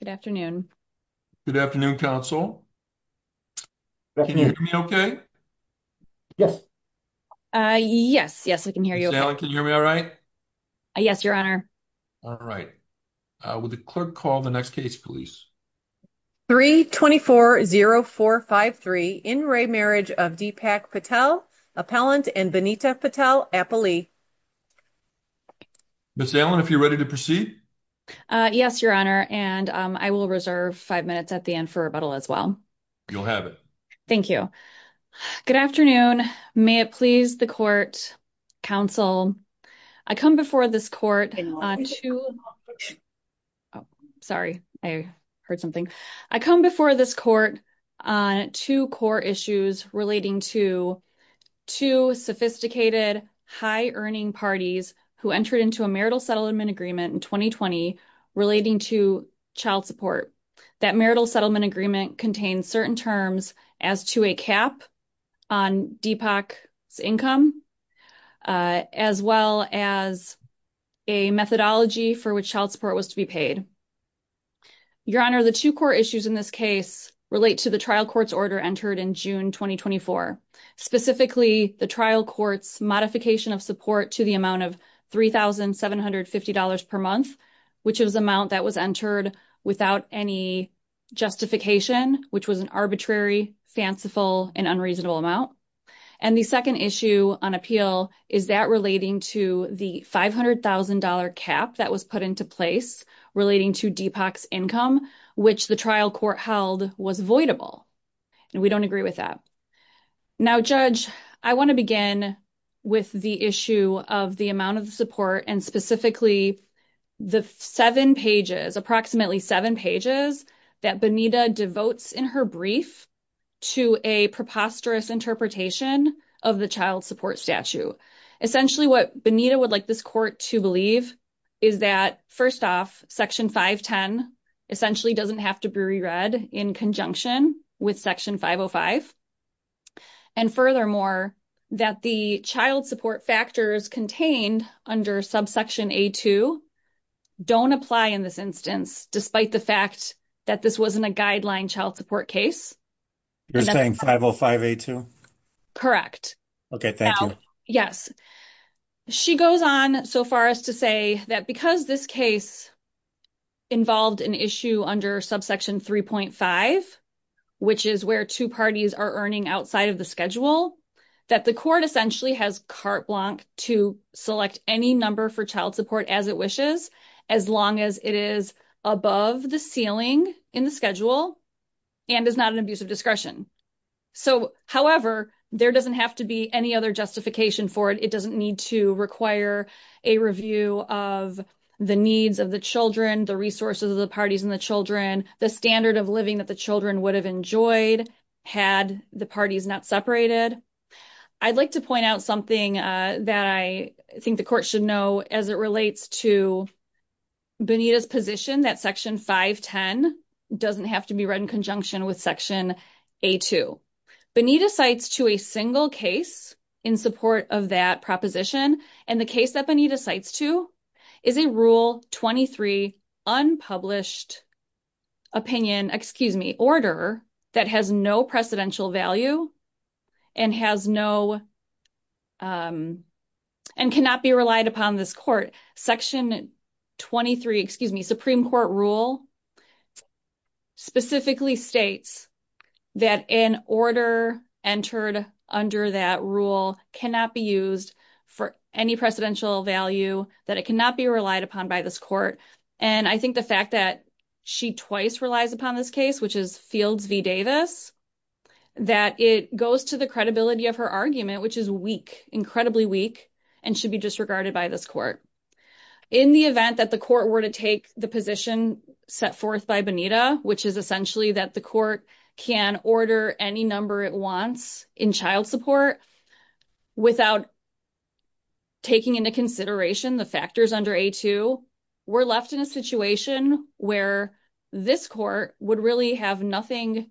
Good afternoon. Good afternoon, Counsel. Can you hear me okay? Yes. Yes, yes, I can hear you. Ms. Allen, can you hear me all right? Yes, Your Honor. All right. Would the clerk call the next case, please? 3-24-0-4-5-3, In Re Marriage of Deepak Patel, Appellant and Benita Patel, Appellee. Ms. Allen, if you're ready to proceed? Yes, Your Honor, and I will reserve five minutes at the end for rebuttal as well. You'll have it. Thank you. Good afternoon. May it please the Court, Counsel, I come before this Court on two I'm sorry. I heard something. I come before this Court on two core issues relating to two sophisticated, high-earning parties who entered into a marital settlement agreement in 2020 relating to child support. That marital settlement agreement contains certain terms as to a cap on Deepak's income as well as a methodology for which child support was to be paid. Your Honor, the two core issues in this case relate to the trial court's order entered in June 2024, specifically the trial court's modification of support to the amount of $3,750 per month, which is the amount that was entered without any justification, which was an arbitrary, fanciful, and unreasonable amount. And the second issue on appeal is that relating to the $500,000 cap that was put into place relating to Deepak's income, which the trial court held was voidable. And we don't agree with that. Now, Judge, I want to begin with the issue of the amount of support and specifically the seven pages, approximately seven pages, that Benita devotes in her brief to a preposterous interpretation of the child support statute. Essentially, what Benita would like this Court to believe is that, first off, Section 510 essentially doesn't have to be re-read in conjunction with Section 505. And furthermore, that the child support factors contained under Subsection A2 don't apply in this instance, despite the fact that this wasn't a guideline child support case. You're saying 505A2? Correct. Okay, thank you. She goes on so far as to say that because this case involved an issue under Subsection 3.5, which is where two parties are earning outside of the schedule, that the Court essentially has carte blanche to select any number for child support as it wishes, as long as it is above the ceiling in the schedule and is not an abuse of discretion. So, however, there doesn't have to be any other justification for it. It doesn't need to require a review of the needs of the children, the resources of the parties and the children, the standard of living that the children would have enjoyed had the parties not separated. I'd like to point out something that I think the Court should know as it relates to Benita's position that Section 510 doesn't have to be read in conjunction with Section A2. Benita cites to a single case in support of that proposition, and the case that Benita cites to is a Rule 23 unpublished opinion, excuse me, Order that has no precedential value and has no, and cannot be relied upon this Court. Section 23, excuse me, Supreme Court Rule specifically states that an Order entered under that Rule cannot be used for any precedential value, that it cannot be relied upon by this Court, and I think the fact that she twice relies upon this case, which is Fields v. Davis, that it goes to the credibility of her argument, which is weak, incredibly weak, and should be disregarded by this Court. In the event that the Court were to take the position set forth by Benita, which is essentially that the Court can order any number it wants in child support without taking into consideration the factors under A2, we're left in a situation where this Court would really have nothing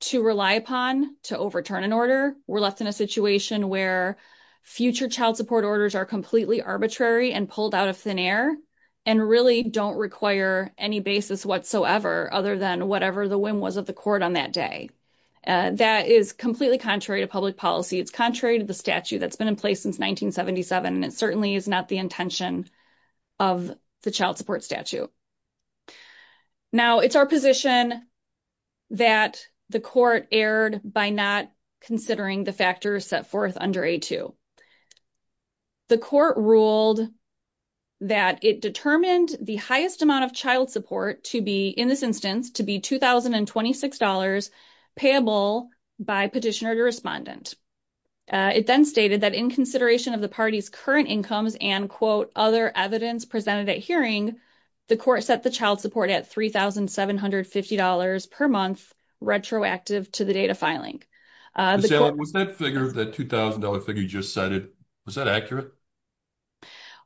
to rely upon to overturn an Order. We're left in a situation where future child support Orders are completely arbitrary and pulled out of thin air and really don't require any basis whatsoever other than whatever the whim was of the Court on that day. That is completely contrary to public policy. It's contrary to the statute that's been in place since 1977, and it certainly is not the intention of the child support statute. Now, it's our position that the Court erred by not considering the factors set forth under A2. The Court ruled that it determined the highest amount of child support to be in this instance to be $2,026 payable by petitioner to respondent. It then stated that in consideration of the party's current incomes and other evidence presented at hearing, the Court set the child support at $3,750 per month, retroactive to the date of filing. Was that figure, that $2,000 figure you just cited, was that accurate?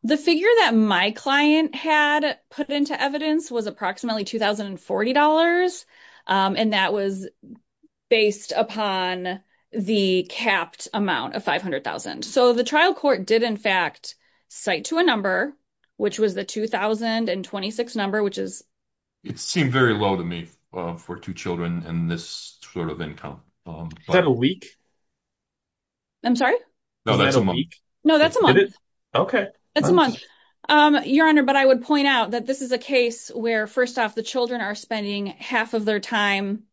The figure that my client had put into evidence was approximately $2,040 and that was based upon the capped amount of $500,000. So the trial court did in fact cite to a number, which was the $2,026 number, which is... It seemed very low to me for two children and this sort of income. Is that a week? I'm sorry? No, that's a month. Is that a week? No, that's a month. Okay. That's a month. Your Honor, but I would point out that this is a case where first off, the children are spending half of their time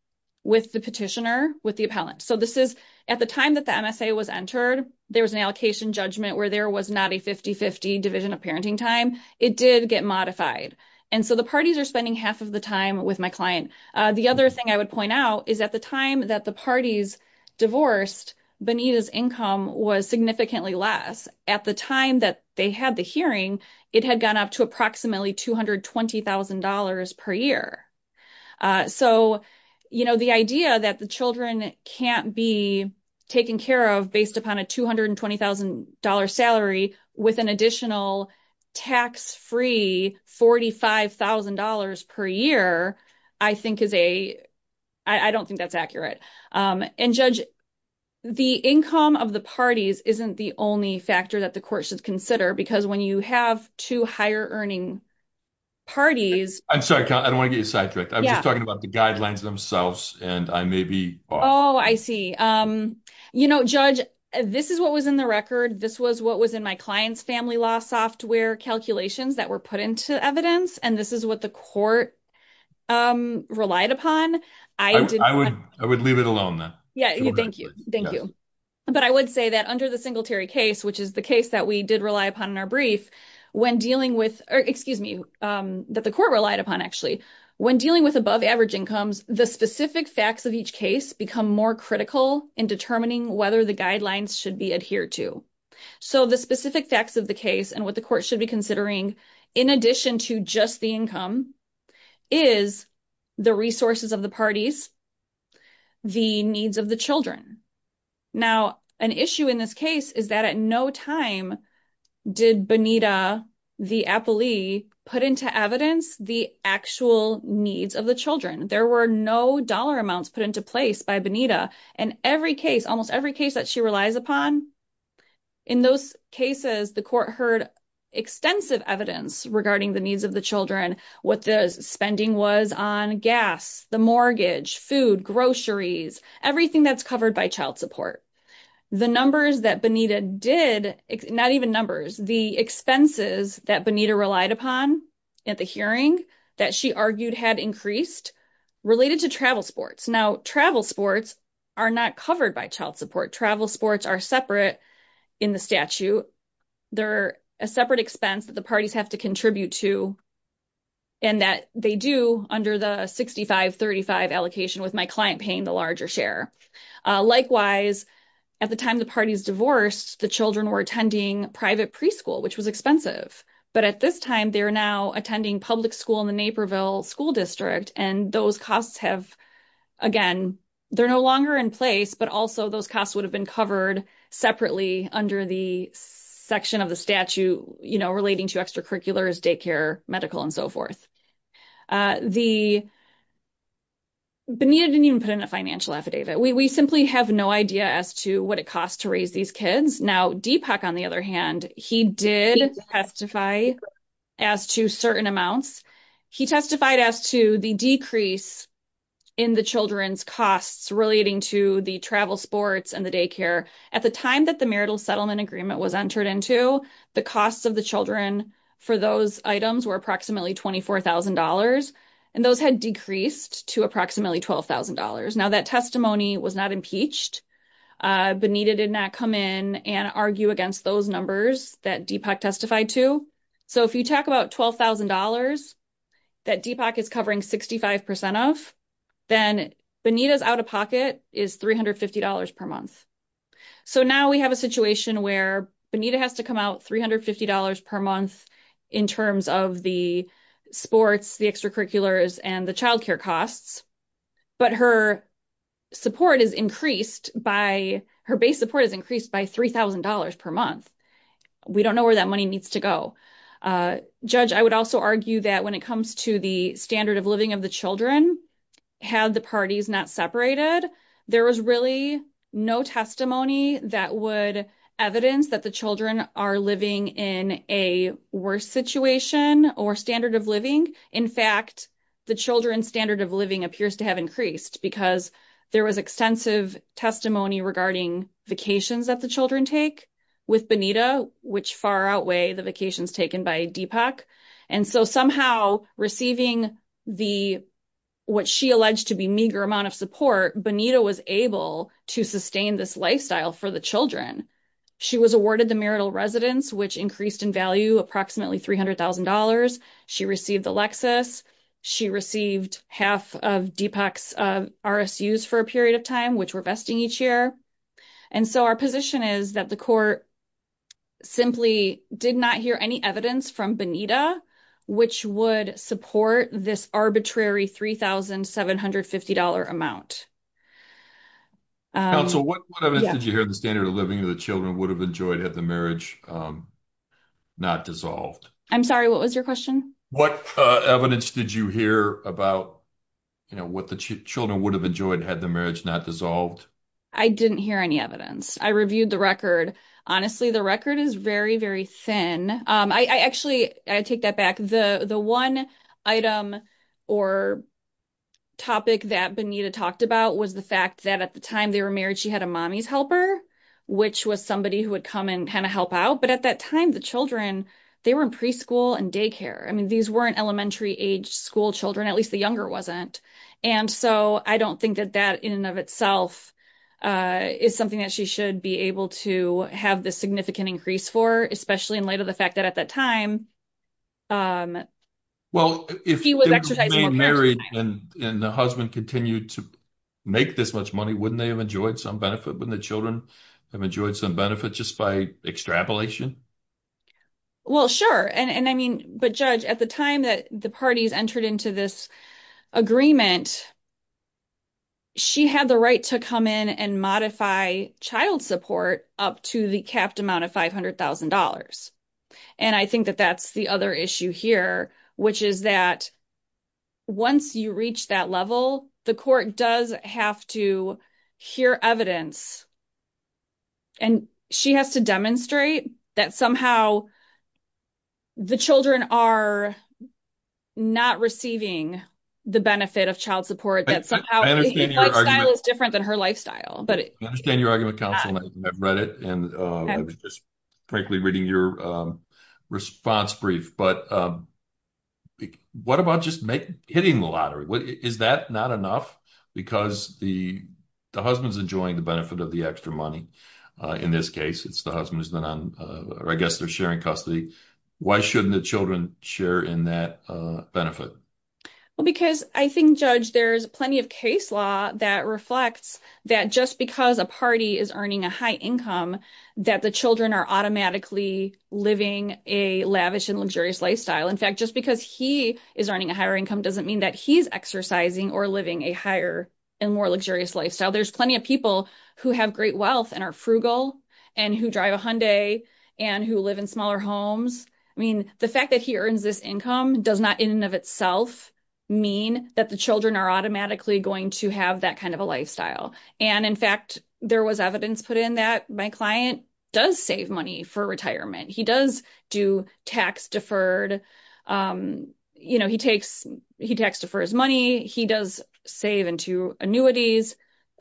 with the petitioner, with the appellant. So this is at the time that the MSA was entered, there was an allocation judgment where there was not a 50-50 division of parenting time. It did get modified. And so the parties are spending half of the time with my client. The other thing I would point out is at the time that the parties divorced, Benita's income was significantly less. At the time that they had the hearing, it had gone up to approximately $220,000 per year. So the idea that the children can't be taken care of based upon a $220,000 salary with an additional tax-free $45,000 per year, I think is a... I don't think that's accurate. And Judge, the income of the parties isn't the only factor that the court should consider because when you have two higher earning parties... I'm sorry. I don't want to get you sidetracked. I was just talking about the guidelines themselves and I may be off. Oh, I see. You know, Judge, this is what was in the record. This was what was in my client's family law software calculations that were put into evidence. And this is what the court relied upon. I would leave it alone then. Thank you. But I would say that under the Singletary case, which is the case that we did rely upon in our brief, when dealing with... excuse me, that the court relied upon actually, when dealing with above average incomes, the specific facts of each case become more critical in determining whether the guidelines should be adhered to. So the specific facts of the case and what the court should be considering in addition to just the income is the resources of the parties, the needs of the children. Now, an issue in this case is that at no time did Bonita, the appellee, put into evidence the actual needs of the children. There were no dollar amounts put into place by Bonita in every case, almost every case that she relies upon. In those cases, the court heard extensive evidence regarding the needs of the children, what the spending was on gas, the mortgage, food, groceries, everything that's covered by child support. The numbers that Bonita did, not even numbers, the expenses that Bonita relied upon at the hearing that she argued had increased related to travel sports. Now, travel sports are not covered by child support. Travel sports are separate in the statute. They're a separate expense that the parties have to contribute to and that they do under the 65-35 allocation with my client paying the larger share. Likewise, at the time the parties divorced, the children were attending private preschool which was expensive. But at this time, they're now attending public school in the Naperville School District and those costs have, again, they're no longer in place, but also those costs would have been covered separately under the section of the statute relating to extracurriculars, daycare, medical, and so forth. Bonita didn't even put in a financial affidavit. We simply have no idea as to what it costs to raise these kids. Now, Deepak, on the other hand, he did testify as to certain amounts. He testified as to the decrease in the children's costs relating to the travel sports and the daycare. At the time that the marital settlement agreement was entered into, the costs of the children for those items were approximately $24,000 and those had decreased to approximately $12,000. Now, that testimony was not impeached. Bonita did not come in and argue against those numbers that Deepak testified to. So, if you talk about $12,000 that Deepak is covering 65% of, then Bonita's out-of-pocket is $350 per month. So, now we have a situation where Bonita has to come out with $350 per month in terms of the sports, the extracurriculars, and the childcare costs, but her support is increased by $3,000 per month. We don't know where that money needs to go. Judge, I would also argue that when it comes to the standard of living of the children, had the parties not separated, there was really no testimony that would evidence that the children are living in a worse situation or standard of living. In fact, the children's standard of living appears to have increased because there was extensive testimony regarding vacations that the children take with Bonita, which far outweigh the vacations taken by Deepak. So, somehow, receiving what she alleged to be meager amount of support, Bonita was able to sustain this lifestyle for the children. She was awarded the marital residence, which increased in value approximately $300,000. She received Alexis. She received half of Deepak's RSUs for a period of time, which were vesting each year. And so, our position is that the court simply did not hear any evidence from Bonita, which would support this arbitrary $3,750 amount. Counsel, what evidence did you hear of the standard of living that the children would have enjoyed had the marriage not dissolved? I'm sorry, what was your question? What evidence did you hear about what the children would have enjoyed had the marriage not dissolved? I didn't hear any evidence. I reviewed the record. Honestly, the record is very, very thin. I actually take that back. The one item or topic that Bonita talked about was the fact that at the time they were married, she had a mommy's helper, which was somebody who would come and kind of help out. But at that time, the children, they were in preschool and daycare. I mean, these weren't elementary age school children, at least the younger wasn't. And so, I don't think that that in and of itself is something that she should be able to have the significant increase for, especially in light of the fact that at that time, he was exercising more parental time. Well, if they remained married and the husband continued to make this much money, wouldn't they have enjoyed some benefit? Wouldn't the children have enjoyed some benefit just by extrapolation? Well, sure. And I mean, but Judge, at the time that the parties entered into this agreement, she had the right to come in and modify child support up to the capped amount of $500,000. And I think that that's the other issue here, which is that once you reach that level, the court does have to hear evidence and she has to demonstrate that somehow the children are not receiving the benefit of child support. Her lifestyle is different than her lifestyle. I understand your argument, counsel, and I've read it and frankly, reading your response brief, but what about just hitting the lottery? Is that not enough? Because the husband's enjoying the benefit of the extra money. In this case, it's the husband, or I guess they're sharing custody. Why shouldn't the children share in that benefit? Well, because I think, Judge, there's plenty of case law that reflects that just because a party is earning a high income that the children are automatically living a lavish and luxurious lifestyle. In fact, just because he is earning a higher income doesn't mean that he's exercising or living a higher and more luxurious lifestyle. There's plenty of people who have great wealth and are frugal and who drive a Hyundai and who live in smaller homes. I mean, the fact that he earns this income does not in and of itself mean that the children are automatically going to have that kind of a lifestyle. In fact, there was evidence put in that my client does save money for retirement. He does do tax deferred money. He does save into annuities.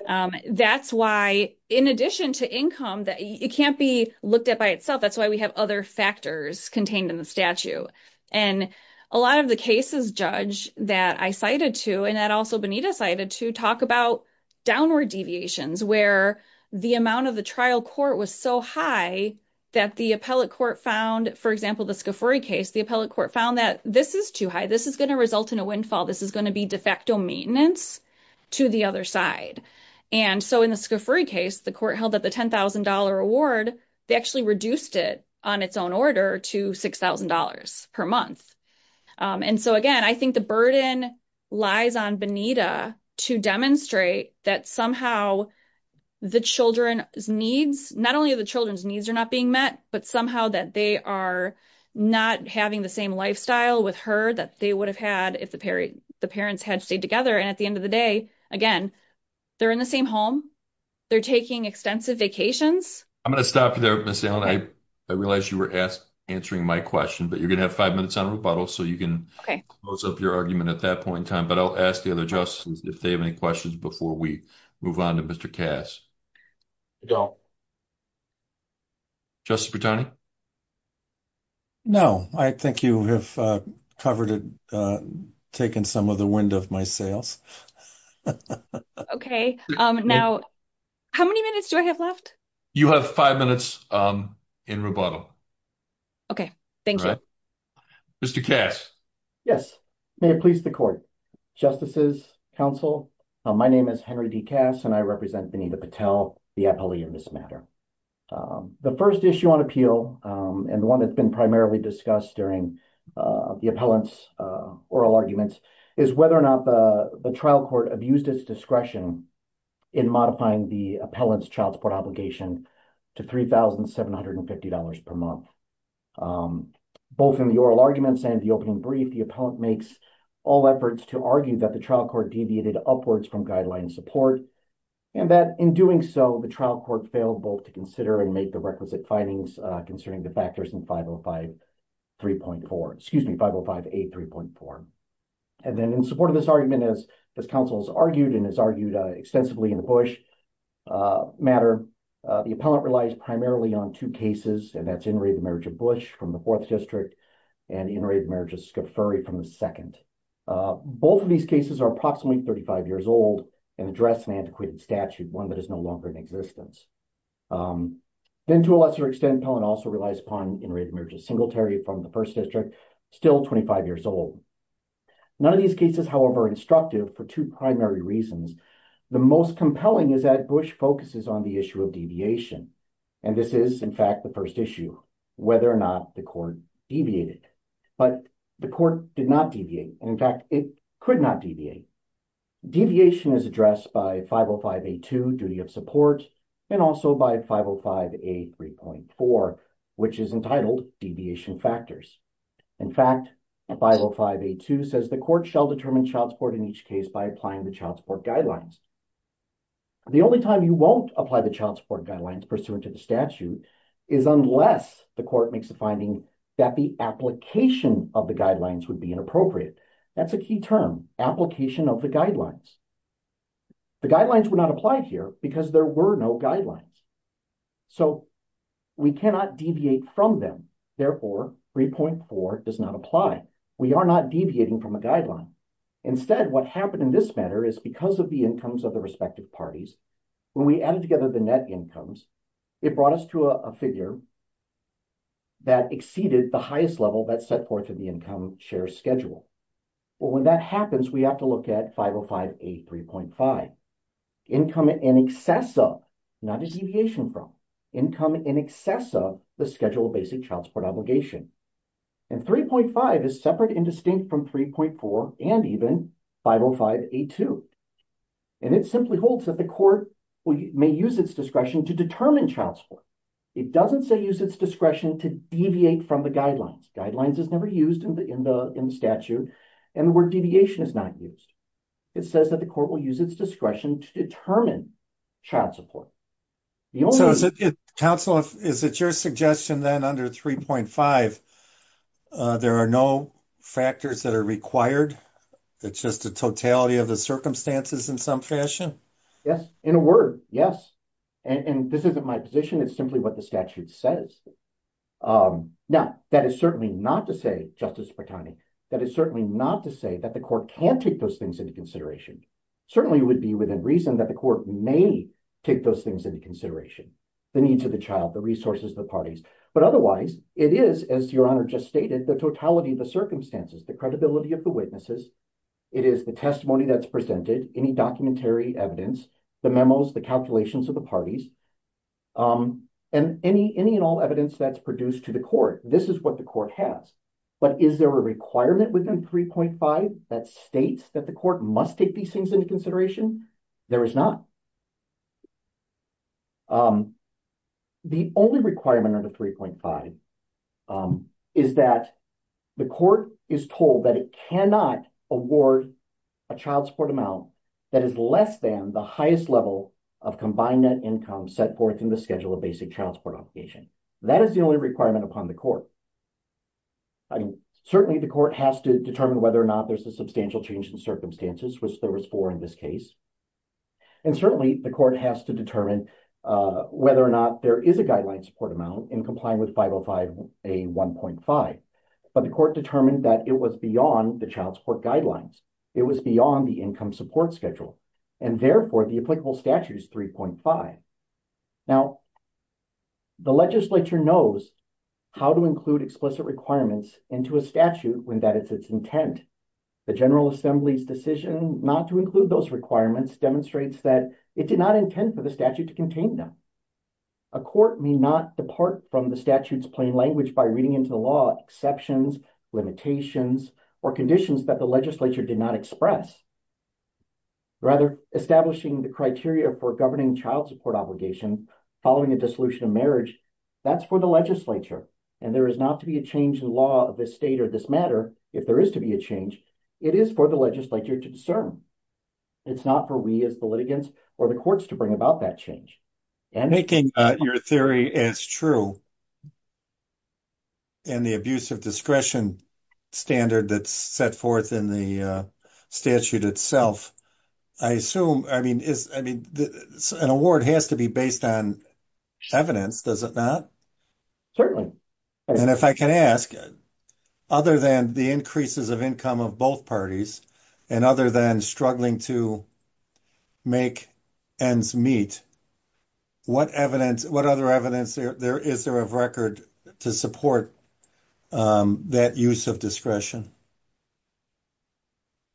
That's why, in addition to income, it can't be looked at by itself. That's why we have other factors contained in the statute. A lot of the cases, Judge, that I cited to, and that also Benita cited to, talk about downward deviations where the amount of the trial court was so high that the appellate court found, for example, the Scafuri case, the appellate court found that this is too high. This is going to result in a windfall. This is going to be de facto maintenance to the other side. In the Scafuri case, the court held that the $10,000 award, they actually reduced it on its own order to $6,000 per month. Again, I think the burden lies on Benita to demonstrate that somehow the children's needs, not only are the children's needs not being met, but somehow that they are not having the same lifestyle with her that they would have had if the parents had stayed together. At the end of the day, again, they're in the same home. They're taking extensive vacations. I'm going to stop you there, Ms. Allen. I realize you were answering my question, but you're going to have five minutes on rebuttal, so you can close up your argument at that point in time. I'll ask the other justices if they have any questions before we move on to Mr. Cass. Justice Brattani? No. I think you have covered it, taken some of the wind off my sails. How many minutes do I have left? You have five minutes in rebuttal. Okay. Thank you. Mr. Cass? Yes. May it please the court. Justices, counsel, my name is Henry D. Cass, and I represent Benita Patel, the appellee in this matter. The first issue on appeal, and the one that's been primarily discussed during the appellant's oral arguments, is whether or not the trial court abused its discretion in modifying the appellant's court obligation to $3,750 per month. Both in the oral arguments and the opening brief, the appellant makes all efforts to argue that the trial court deviated upwards from guideline support, and that in doing so, the trial court failed both to consider and make the requisite findings concerning the factors in 505 3.4, excuse me, 505A 3.4. And then in support of this argument, as counsel has argued and has argued extensively in the Bush matter, the appellant relies primarily on two cases, and that's interrated marriage of Bush from the 4th district and interrated marriage of Skaferi from the 2nd. Both of these cases are approximately 35 years old and address an antiquated statute, one that is no longer in existence. Then to a lesser extent, the appellant also relies upon interrated marriage of Singletary from the 1st district, still 25 years old. None of these cases, however, instructive for two primary reasons. The most compelling is that Bush focuses on the issue of deviation. And this is, in fact, the first issue, whether or not the court deviated. But the court did not deviate. In fact, it could not deviate. Deviation is addressed by 505A 2, duty of support, and also by 505 A 3.4, which is entitled deviation factors. In fact, 505 A 2 says the court shall determine child support in each case by applying the child support guidelines. The only time you won't apply the child support guidelines pursuant to the statute is unless the court makes a finding that the application of the guidelines would be inappropriate. That's a key term, application of the guidelines. The guidelines were not applied here because there were no guidelines. So we cannot deviate from them. Therefore, 3.4 does not apply. We are not deviating from a guideline. Instead, what happened in this matter is because of the incomes of the respective parties, when we added together the net incomes, it brought us to a figure that exceeded the highest level that set forth in the income share schedule. Well, when that happens, we have to look at 505 A 3.5. Income in excess of, not a deviation from, income in excess of the schedule of basic child support obligation. 3.5 is separate and distinct from 3.4 and even 505 A 2. It simply holds that the court may use its discretion to determine child support. It doesn't say use its discretion to deviate from the guidelines. Guidelines is never used in the statute. The word deviation is not used. It says that the court will use its discretion to determine child support. Counsel, is it your suggestion then under 3.5, there are no factors that are required? It's just a totality of the circumstances in some fashion? Yes. In a word, yes. And this isn't my position. It's simply what the statute says. Now, that is certainly not to say, Justice Bertani, that is certainly not to say that the court can't take those things into consideration. Certainly, it would be within reason that the court may take those things into consideration. The needs of the child, the resources, the parties. But otherwise, it is, as Your Honor just stated, the totality of the circumstances, the credibility of the witnesses. It is the testimony that's presented, any documentary evidence, the memos, the calculations of the parties, and any and all evidence that's produced to the court. This is what the court has. But is there a requirement within 3.5 that states that the court must take these things into consideration? There is not. The only requirement under 3.5 is that the court is told that it cannot award a child support amount that is less than the highest level of combined net income set forth in the schedule of basic child support obligation. That is the only requirement upon the court. Certainly, the court has to determine whether or not there's a substantial change in circumstances, which there was four in this case. And certainly, the court has to determine whether or not there is a guideline support amount in complying with 505A1.5. But the court determined that it was beyond the child support guidelines. It was beyond the income support schedule. And therefore, the applicable statute is 3.5. Now, the legislature knows how to include explicit requirements into a statute when that is its intent. The General Assembly's decision not to include those requirements demonstrates that it did not intend for the statute to contain them. A court may not depart from the statute's plain language by reading into the law exceptions, limitations, or conditions that the legislature did not express. Rather, establishing the criteria for governing child support obligation following a dissolution of marriage, that's for the legislature. And there is not to be a change in law of this state or this matter, if there is to be a change, it is for the legislature to discern. It's not for we as the litigants or the courts to bring about that change. Making your theory as true and the abuse of discretion standard that's set forth in the statute itself, I assume, I mean, an award has to be based on evidence, does it not? Certainly. And if I can ask, other than the increases of income of both parties and other than struggling to make ends meet, what other evidence is there of record to support that use of discretion?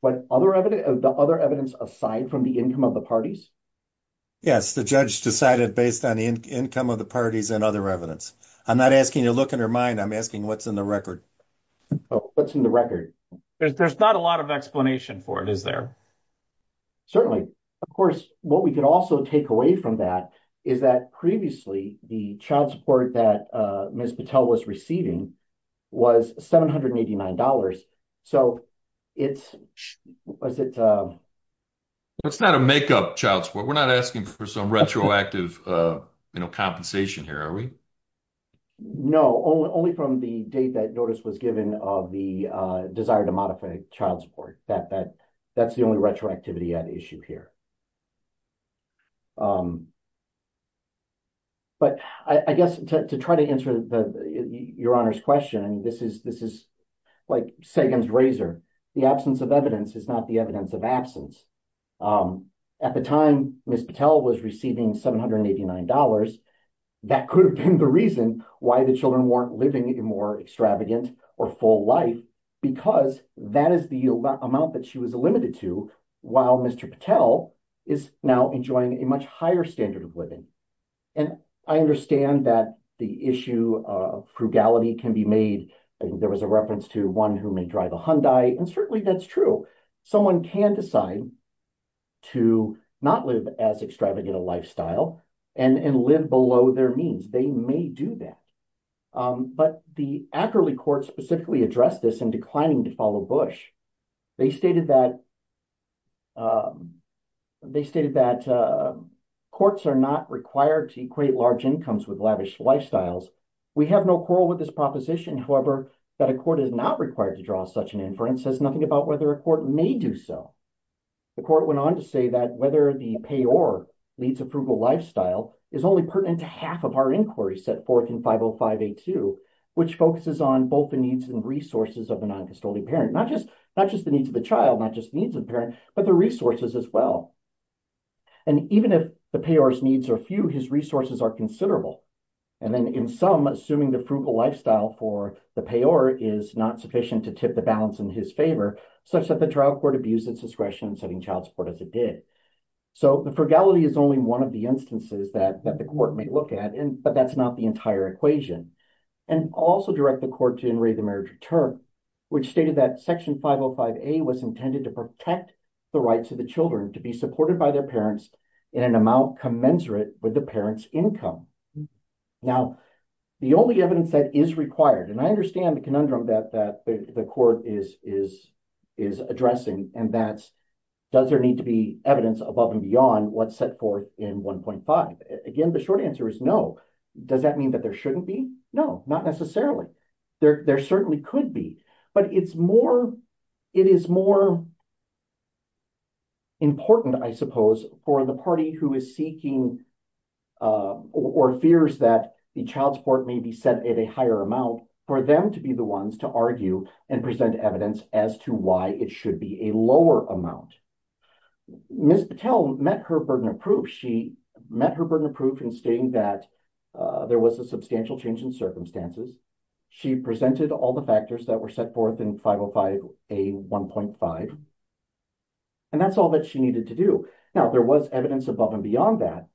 The other evidence aside from the income of the parties? Yes, the judge decided based on the parties and other evidence. I'm not asking you to look in her mind, I'm asking what's in the record. What's in the record? There's not a lot of explanation for it, is there? Certainly. Of course, what we could also take away from that is that previously the child support that Ms. Patel was receiving was $789. So, it's... It's not a make-up child support. We're not asking for some retroactive compensation here, are we? No. Only from the date that notice was given of the desire to modify child support. That's the only retroactivity at issue here. But, I guess, to try to answer Your Honor's question, this is like Sagan's razor. The absence of evidence is not the evidence of absence. At the time, Ms. Patel was receiving $789, that could have been the reason why the children weren't living a more extravagant or full life, because that is the amount that she was limited to, while Mr. Patel is now enjoying a much higher standard of living. And I understand that the issue of frugality can be made. There was a reference to one who may drive a Hyundai, and certainly that's true. Someone can decide to not live as extravagant a lifestyle and live below their means. They may do that. But the Ackerley Court specifically addressed this in declining to follow Bush. They stated that courts are not required to equate large incomes with lavish lifestyles. We have no quarrel with this proposition, however, that a court is not required to draw such an inference says nothing about whether a court may do so. The court went on to say that whether the payor leads a frugal lifestyle is only pertinent to half of our inquiries set forth in 505A2, which focuses on both the needs and resources of the non-custodial parent. Not just the needs of the child, not just the needs of the parent, but the resources as well. And even if the payor's needs are few, his resources are considerable. And then in some assuming the frugal lifestyle for the payor is not sufficient to tip the balance in his favor, such that the trial court abused its discretion in setting child support as it did. So the frugality is only one of the instances that the court may look at, but that's not the entire equation. And also direct the court to enrave the marriage return, which stated that Section 505A was intended to protect the rights of the children to be supported by their parents in an amount commensurate with the parent's income. Now, the only evidence that is required, and I understand the conundrum that the court is addressing, and that's does there need to be evidence above and beyond what's set forth in 1.5. Again, the short answer is no. Does that mean that there shouldn't be? No, not necessarily. There certainly could be. But it's more, it is more important, I suppose, for the party who is seeking or fears that the child support may be set at a higher amount for them to be the ones to argue and present evidence as to why it should be a lower amount. Ms. Patel met her burden of proof. She met her burden of proof in stating that there was a substantial change in circumstances. She presented all the factors that were set forth in 505A 1.5, and that's all that she needed to do. Now, there was evidence above and beyond that,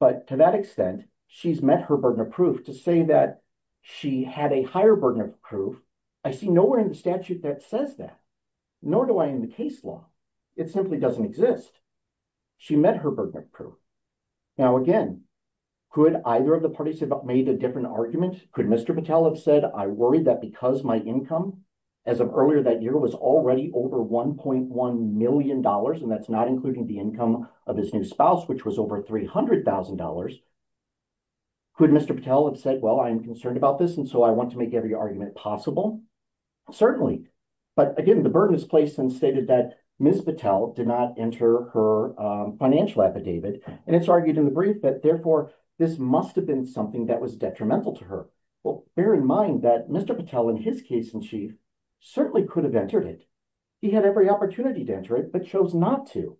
but to that extent she's met her burden of proof. To say that she had a higher burden of proof, I see nowhere in the statute that says that, nor do I in the case law. It simply doesn't exist. She met her burden of proof. Now, again, could either of the parties have made a different argument? Could Mr. Patel have said, I worry that because my income, as of earlier that year, was already over $1.1 million, and that's not including the income of his new spouse, which was over $300,000, could Mr. Patel have said, well, I'm concerned about this, and so I want to make every argument possible? Certainly. But, again, the burden is placed and stated that Ms. Patel did not enter her financial affidavit, and it's argued in the brief that therefore this must have been something that was detrimental to her. Well, bear in mind that Mr. Patel, in his case in chief, certainly could have entered it. He had every opportunity to enter it, but chose not to.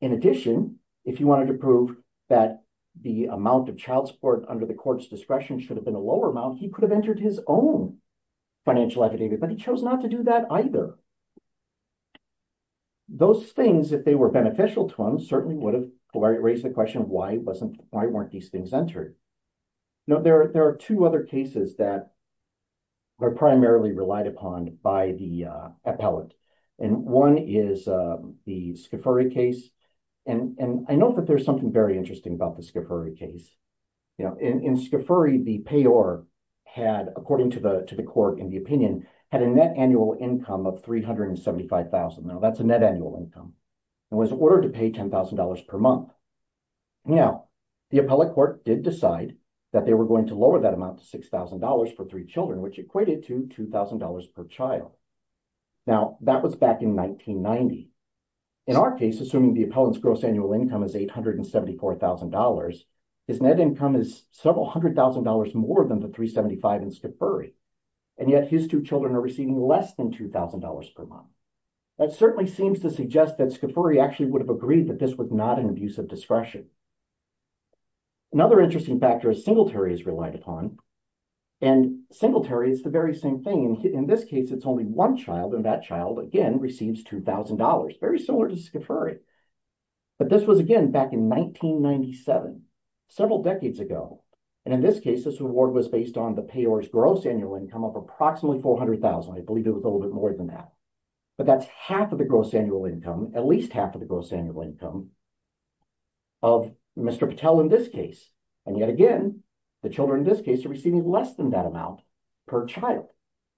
In addition, if he wanted to prove that the amount of child support under the court's discretion should have been a lower amount, he could have entered his own financial affidavit, but he chose not to do that either. Those things, if they were beneficial to him, certainly would have raised the question of why weren't these things entered. Now, there are two other cases that are primarily relied upon by the appellant, and one is the Scafuri case, and I know that there's something very interesting about the Scafuri case. In Scafuri, the payor had, according to the court in the opinion, had a net annual income of $375,000. Now, that's a net annual income. It was ordered to pay $10,000 per month. Now, the appellate court did decide that they were going to lower that amount to $6,000 for three children, which equated to $2,000 per child. Now, that was back in 1990. In our case, assuming the appellant's gross annual income is $874,000, his net income is several hundred thousand dollars more than the $375,000 in Scafuri, and yet his two children are receiving less than $2,000 per month. That certainly seems to suggest that Scafuri actually would have agreed that this was not an abuse of discretion. Another interesting factor is Singletary is relied upon, and Singletary is the very same thing. In this case, it's only one child, and that child, again, receives $2,000, very similar to Scafuri. But this was, again, back in 1997, several decades ago. And in this case, this reward was based on the payor's gross annual income of approximately $400,000. I believe it was a little bit more than that. But that's half of the gross annual income, at least half of the gross annual income, of Mr. Patel in this case. And yet again, the children in this case are receiving less than that amount per child.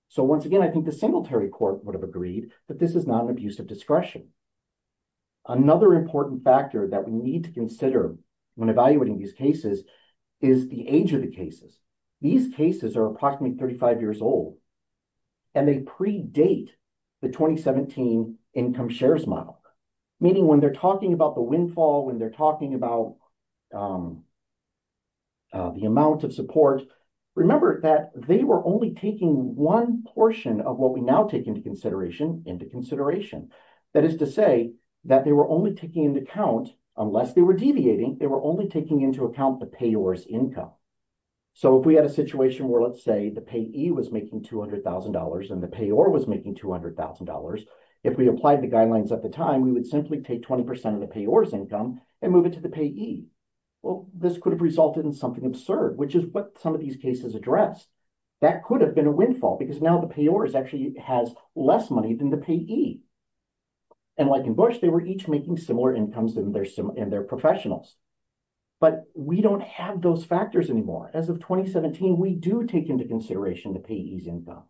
So once again, I think the Singletary court would have agreed that this is not an abuse of discretion. Another important factor that we need to consider when evaluating these cases is the age of the cases. These cases are approximately 35 years old, and they predate the 2017 income shares model. Meaning when they're talking about the windfall, when they're talking about the amount of support, remember that they were only taking one portion of what we now take into consideration into consideration. That is to say that they were only taking into account, unless they were deviating, they were only taking into account the payor's income. So if we had a situation where, let's say, the payee was making $200,000 and the payor was making $200,000, if we applied the guidelines at the time, we would simply take 20% of the payor's income and move it to the payee. Well, this could have resulted in something absurd, which is what some of these cases address. That could have been a windfall because now the payor actually has less money than the payee. And like in Bush, they were each making similar incomes than their professionals. But we don't have those factors anymore. As of 2017, we do take into consideration the payee's income.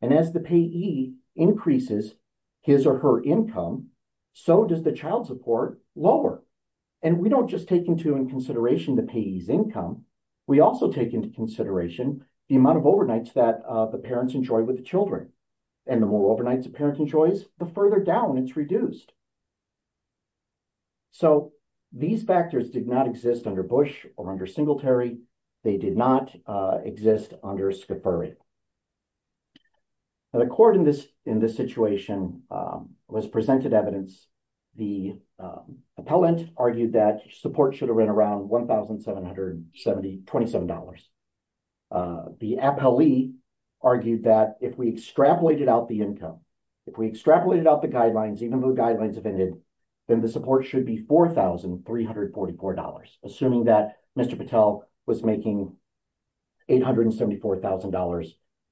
And as the payee increases his or her income, so does the child support lower. And we don't just take into consideration the payee's income. We also take into consideration the amount of overnights that the parents enjoy with the children. And the more overnights a parent enjoys, the further down it's reduced. So these factors did not exist under Bush or under Singletary. They did not exist under Scafari. The court in this situation was presented evidence. The appellant argued that support should have been around $1,727. The appellee argued that if we extrapolated out the income, if we extrapolated out the guidelines, even though the guidelines have ended, then the support should be $4,344. Assuming that Mr. Patel was making $874,000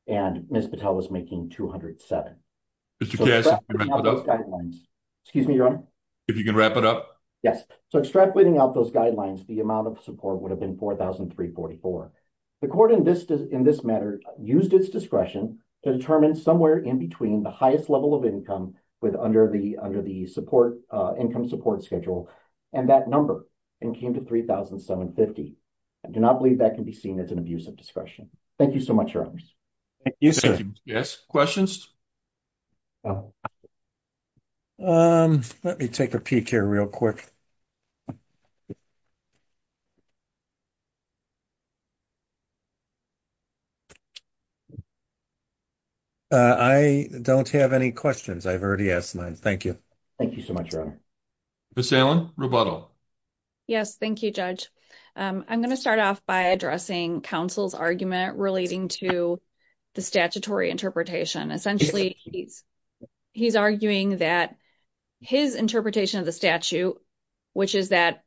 and Ms. Patel was making $1,207. So extrapolating out those guidelines, the amount of support would have been $4,344. The court in this matter used its discretion to determine somewhere in between the highest level of income under the income support schedule and that number, and came to $3,750. I do not believe that can be seen as an abuse of discretion. Thank you so much, Your Honors. Thank you, sir. Let me take a peek here real quick. I don't have any questions. I've already asked mine. Thank you. Thank you so much, Your Honor. Yes, thank you, Judge. I'm going to start off by addressing counsel's argument relating to the statutory interpretation. Essentially, he's arguing that his interpretation of the statute, which is that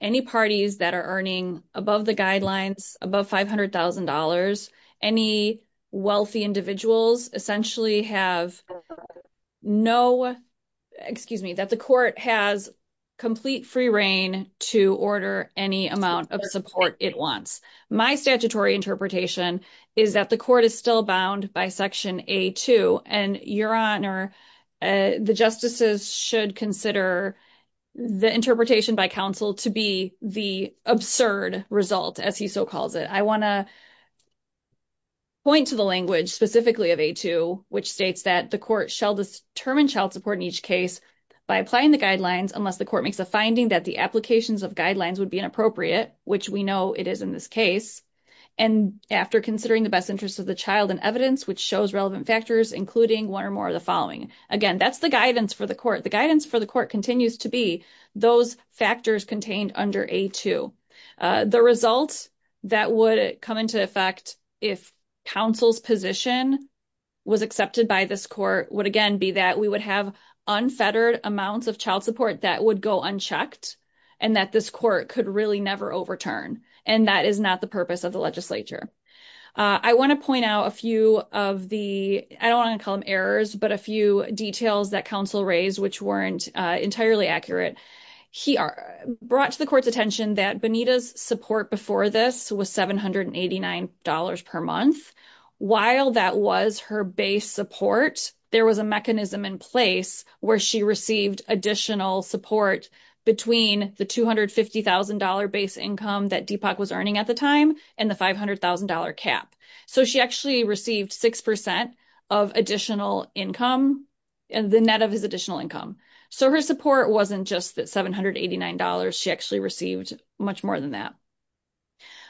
any parties that are earning above the guidelines, above $500,000, any wealthy individuals essentially have no, excuse me, that the court has complete free reign to order any amount of support it wants. My statutory interpretation is that the court is still bound by Section A-2, and Your Honor, the justices should consider the interpretation by counsel to be the absurd result, as he so calls it. I want to point to the language specifically of A-2, which states that the court shall determine child support in each case by applying the guidelines unless the court makes a finding that the implications of guidelines would be inappropriate, which we know it is in this case, and after considering the best interest of the child in evidence, which shows relevant factors, including one or more of the following. Again, that's the guidance for the court. The guidance for the court continues to be those factors contained under A-2. The result that would come into effect if counsel's position was accepted by this court would again be that we would have unfettered amounts of child support that would go unchecked, and that this court could really never overturn, and that is not the purpose of the legislature. I want to point out a few of the, I don't want to call them errors, but a few details that counsel raised which weren't entirely accurate. He brought to the court's attention that Benita's support before this was $789 per month. While that was her base support, there was a mechanism in place where she received additional support between the $250,000 base income that Deepak was earning at the time and the $500,000 cap. She actually received 6% of additional income, the net of his additional income. Her support wasn't just the $789. She actually received much more than that.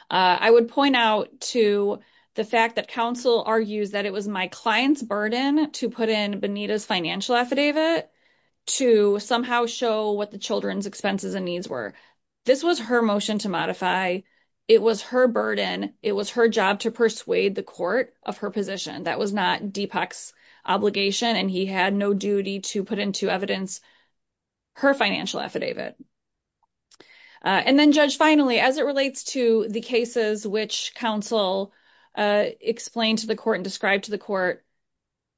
I would point out to the fact that counsel argues that it was my client's burden to put in Benita's financial affidavit to somehow show what the children's expenses and needs were. This was her motion to modify. It was her burden. It was her job to persuade the court of her position. That was not Deepak's obligation, and he had no duty to put into evidence her financial affidavit. And then, Judge, finally, as it relates to the cases which counsel explained to the court and described to the court,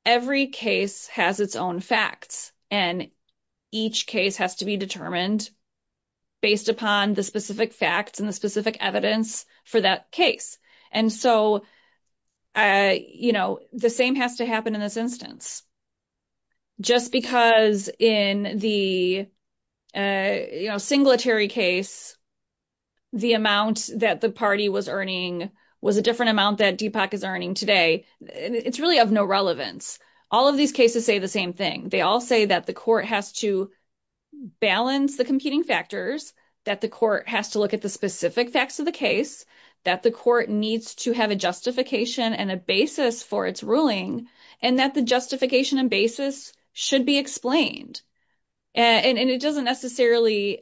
every case has its own facts and each case has to be determined based upon the specific facts and the specific evidence for that case. The same has to happen in this instance. Just because in the Singletary case, the amount that the party was earning was a different amount that Deepak is earning today, it's really of no relevance. All of these cases say the same thing. They all say that the court has to balance the competing factors, that the court has to look at the specific facts of the case, that the court needs to have a justification and a basis for its ruling, and that the justification and basis should be explained. And it doesn't necessarily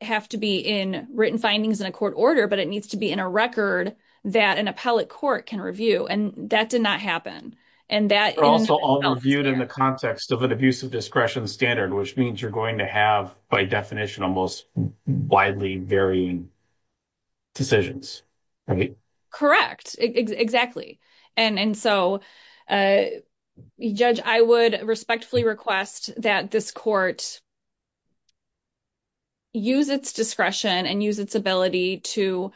have to be in written findings in a court order, but it needs to be in a record that an appellate court can review. And that did not happen. And that... But also all reviewed in the context of an abusive discretion standard, which means you're going to have, by definition, almost widely varying decisions, right? Correct. Exactly. And so, Judge, I would respectfully request that this court use its discretion and use its ability to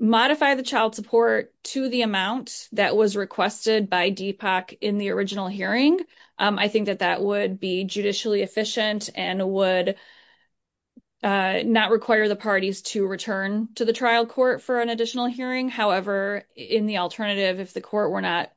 modify the child support to the amount that was requested by Deepak in the original hearing. I think that that would be judicially efficient and would not require the parties to return to the trial court for an additional hearing. However, in the alternative, if the court were not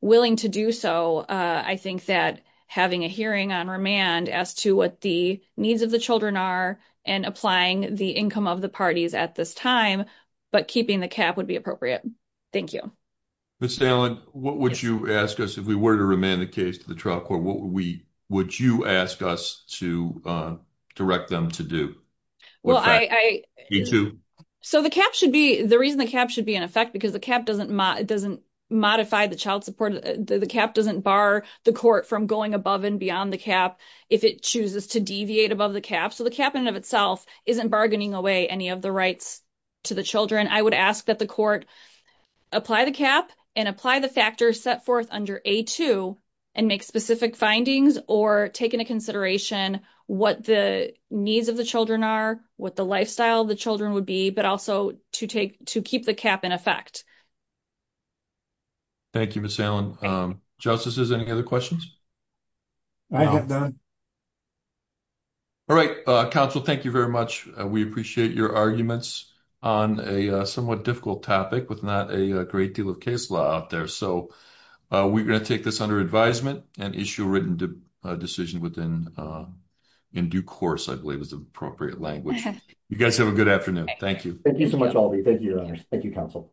willing to do so, I think that having a hearing on remand as to what the needs of the children are and applying the income of the parties at this time, but keeping the cap would be appropriate. Thank you. Ms. Dallin, what would you ask us if we were to remand the case to the trial court? What would you ask us to direct them to do? Well, I... You too. So the cap should be... The reason the cap should be in effect, because the cap doesn't modify the child support. The cap doesn't bar the court from going above and beyond the cap if it chooses to deviate above the cap. So the cap in and of itself isn't bargaining away any of the rights to the children. I would ask that the court apply the cap and apply the factors set forth under A2 and make specific findings or take into consideration what the needs of the children are, what the lifestyle of the children would be, but also to keep the cap in effect. Thank you, Ms. Dallin. Justices, any other questions? All right. Counsel, thank you very much. We appreciate your arguments on a somewhat difficult topic with not a great deal of case law out there. So we're going to take this under advisement and issue a written decision within... in due course, I believe is the appropriate language. You guys have a good afternoon. Thank you. Thank you so much, Albie. Thank you, Your Honors. Thank you, Counsel.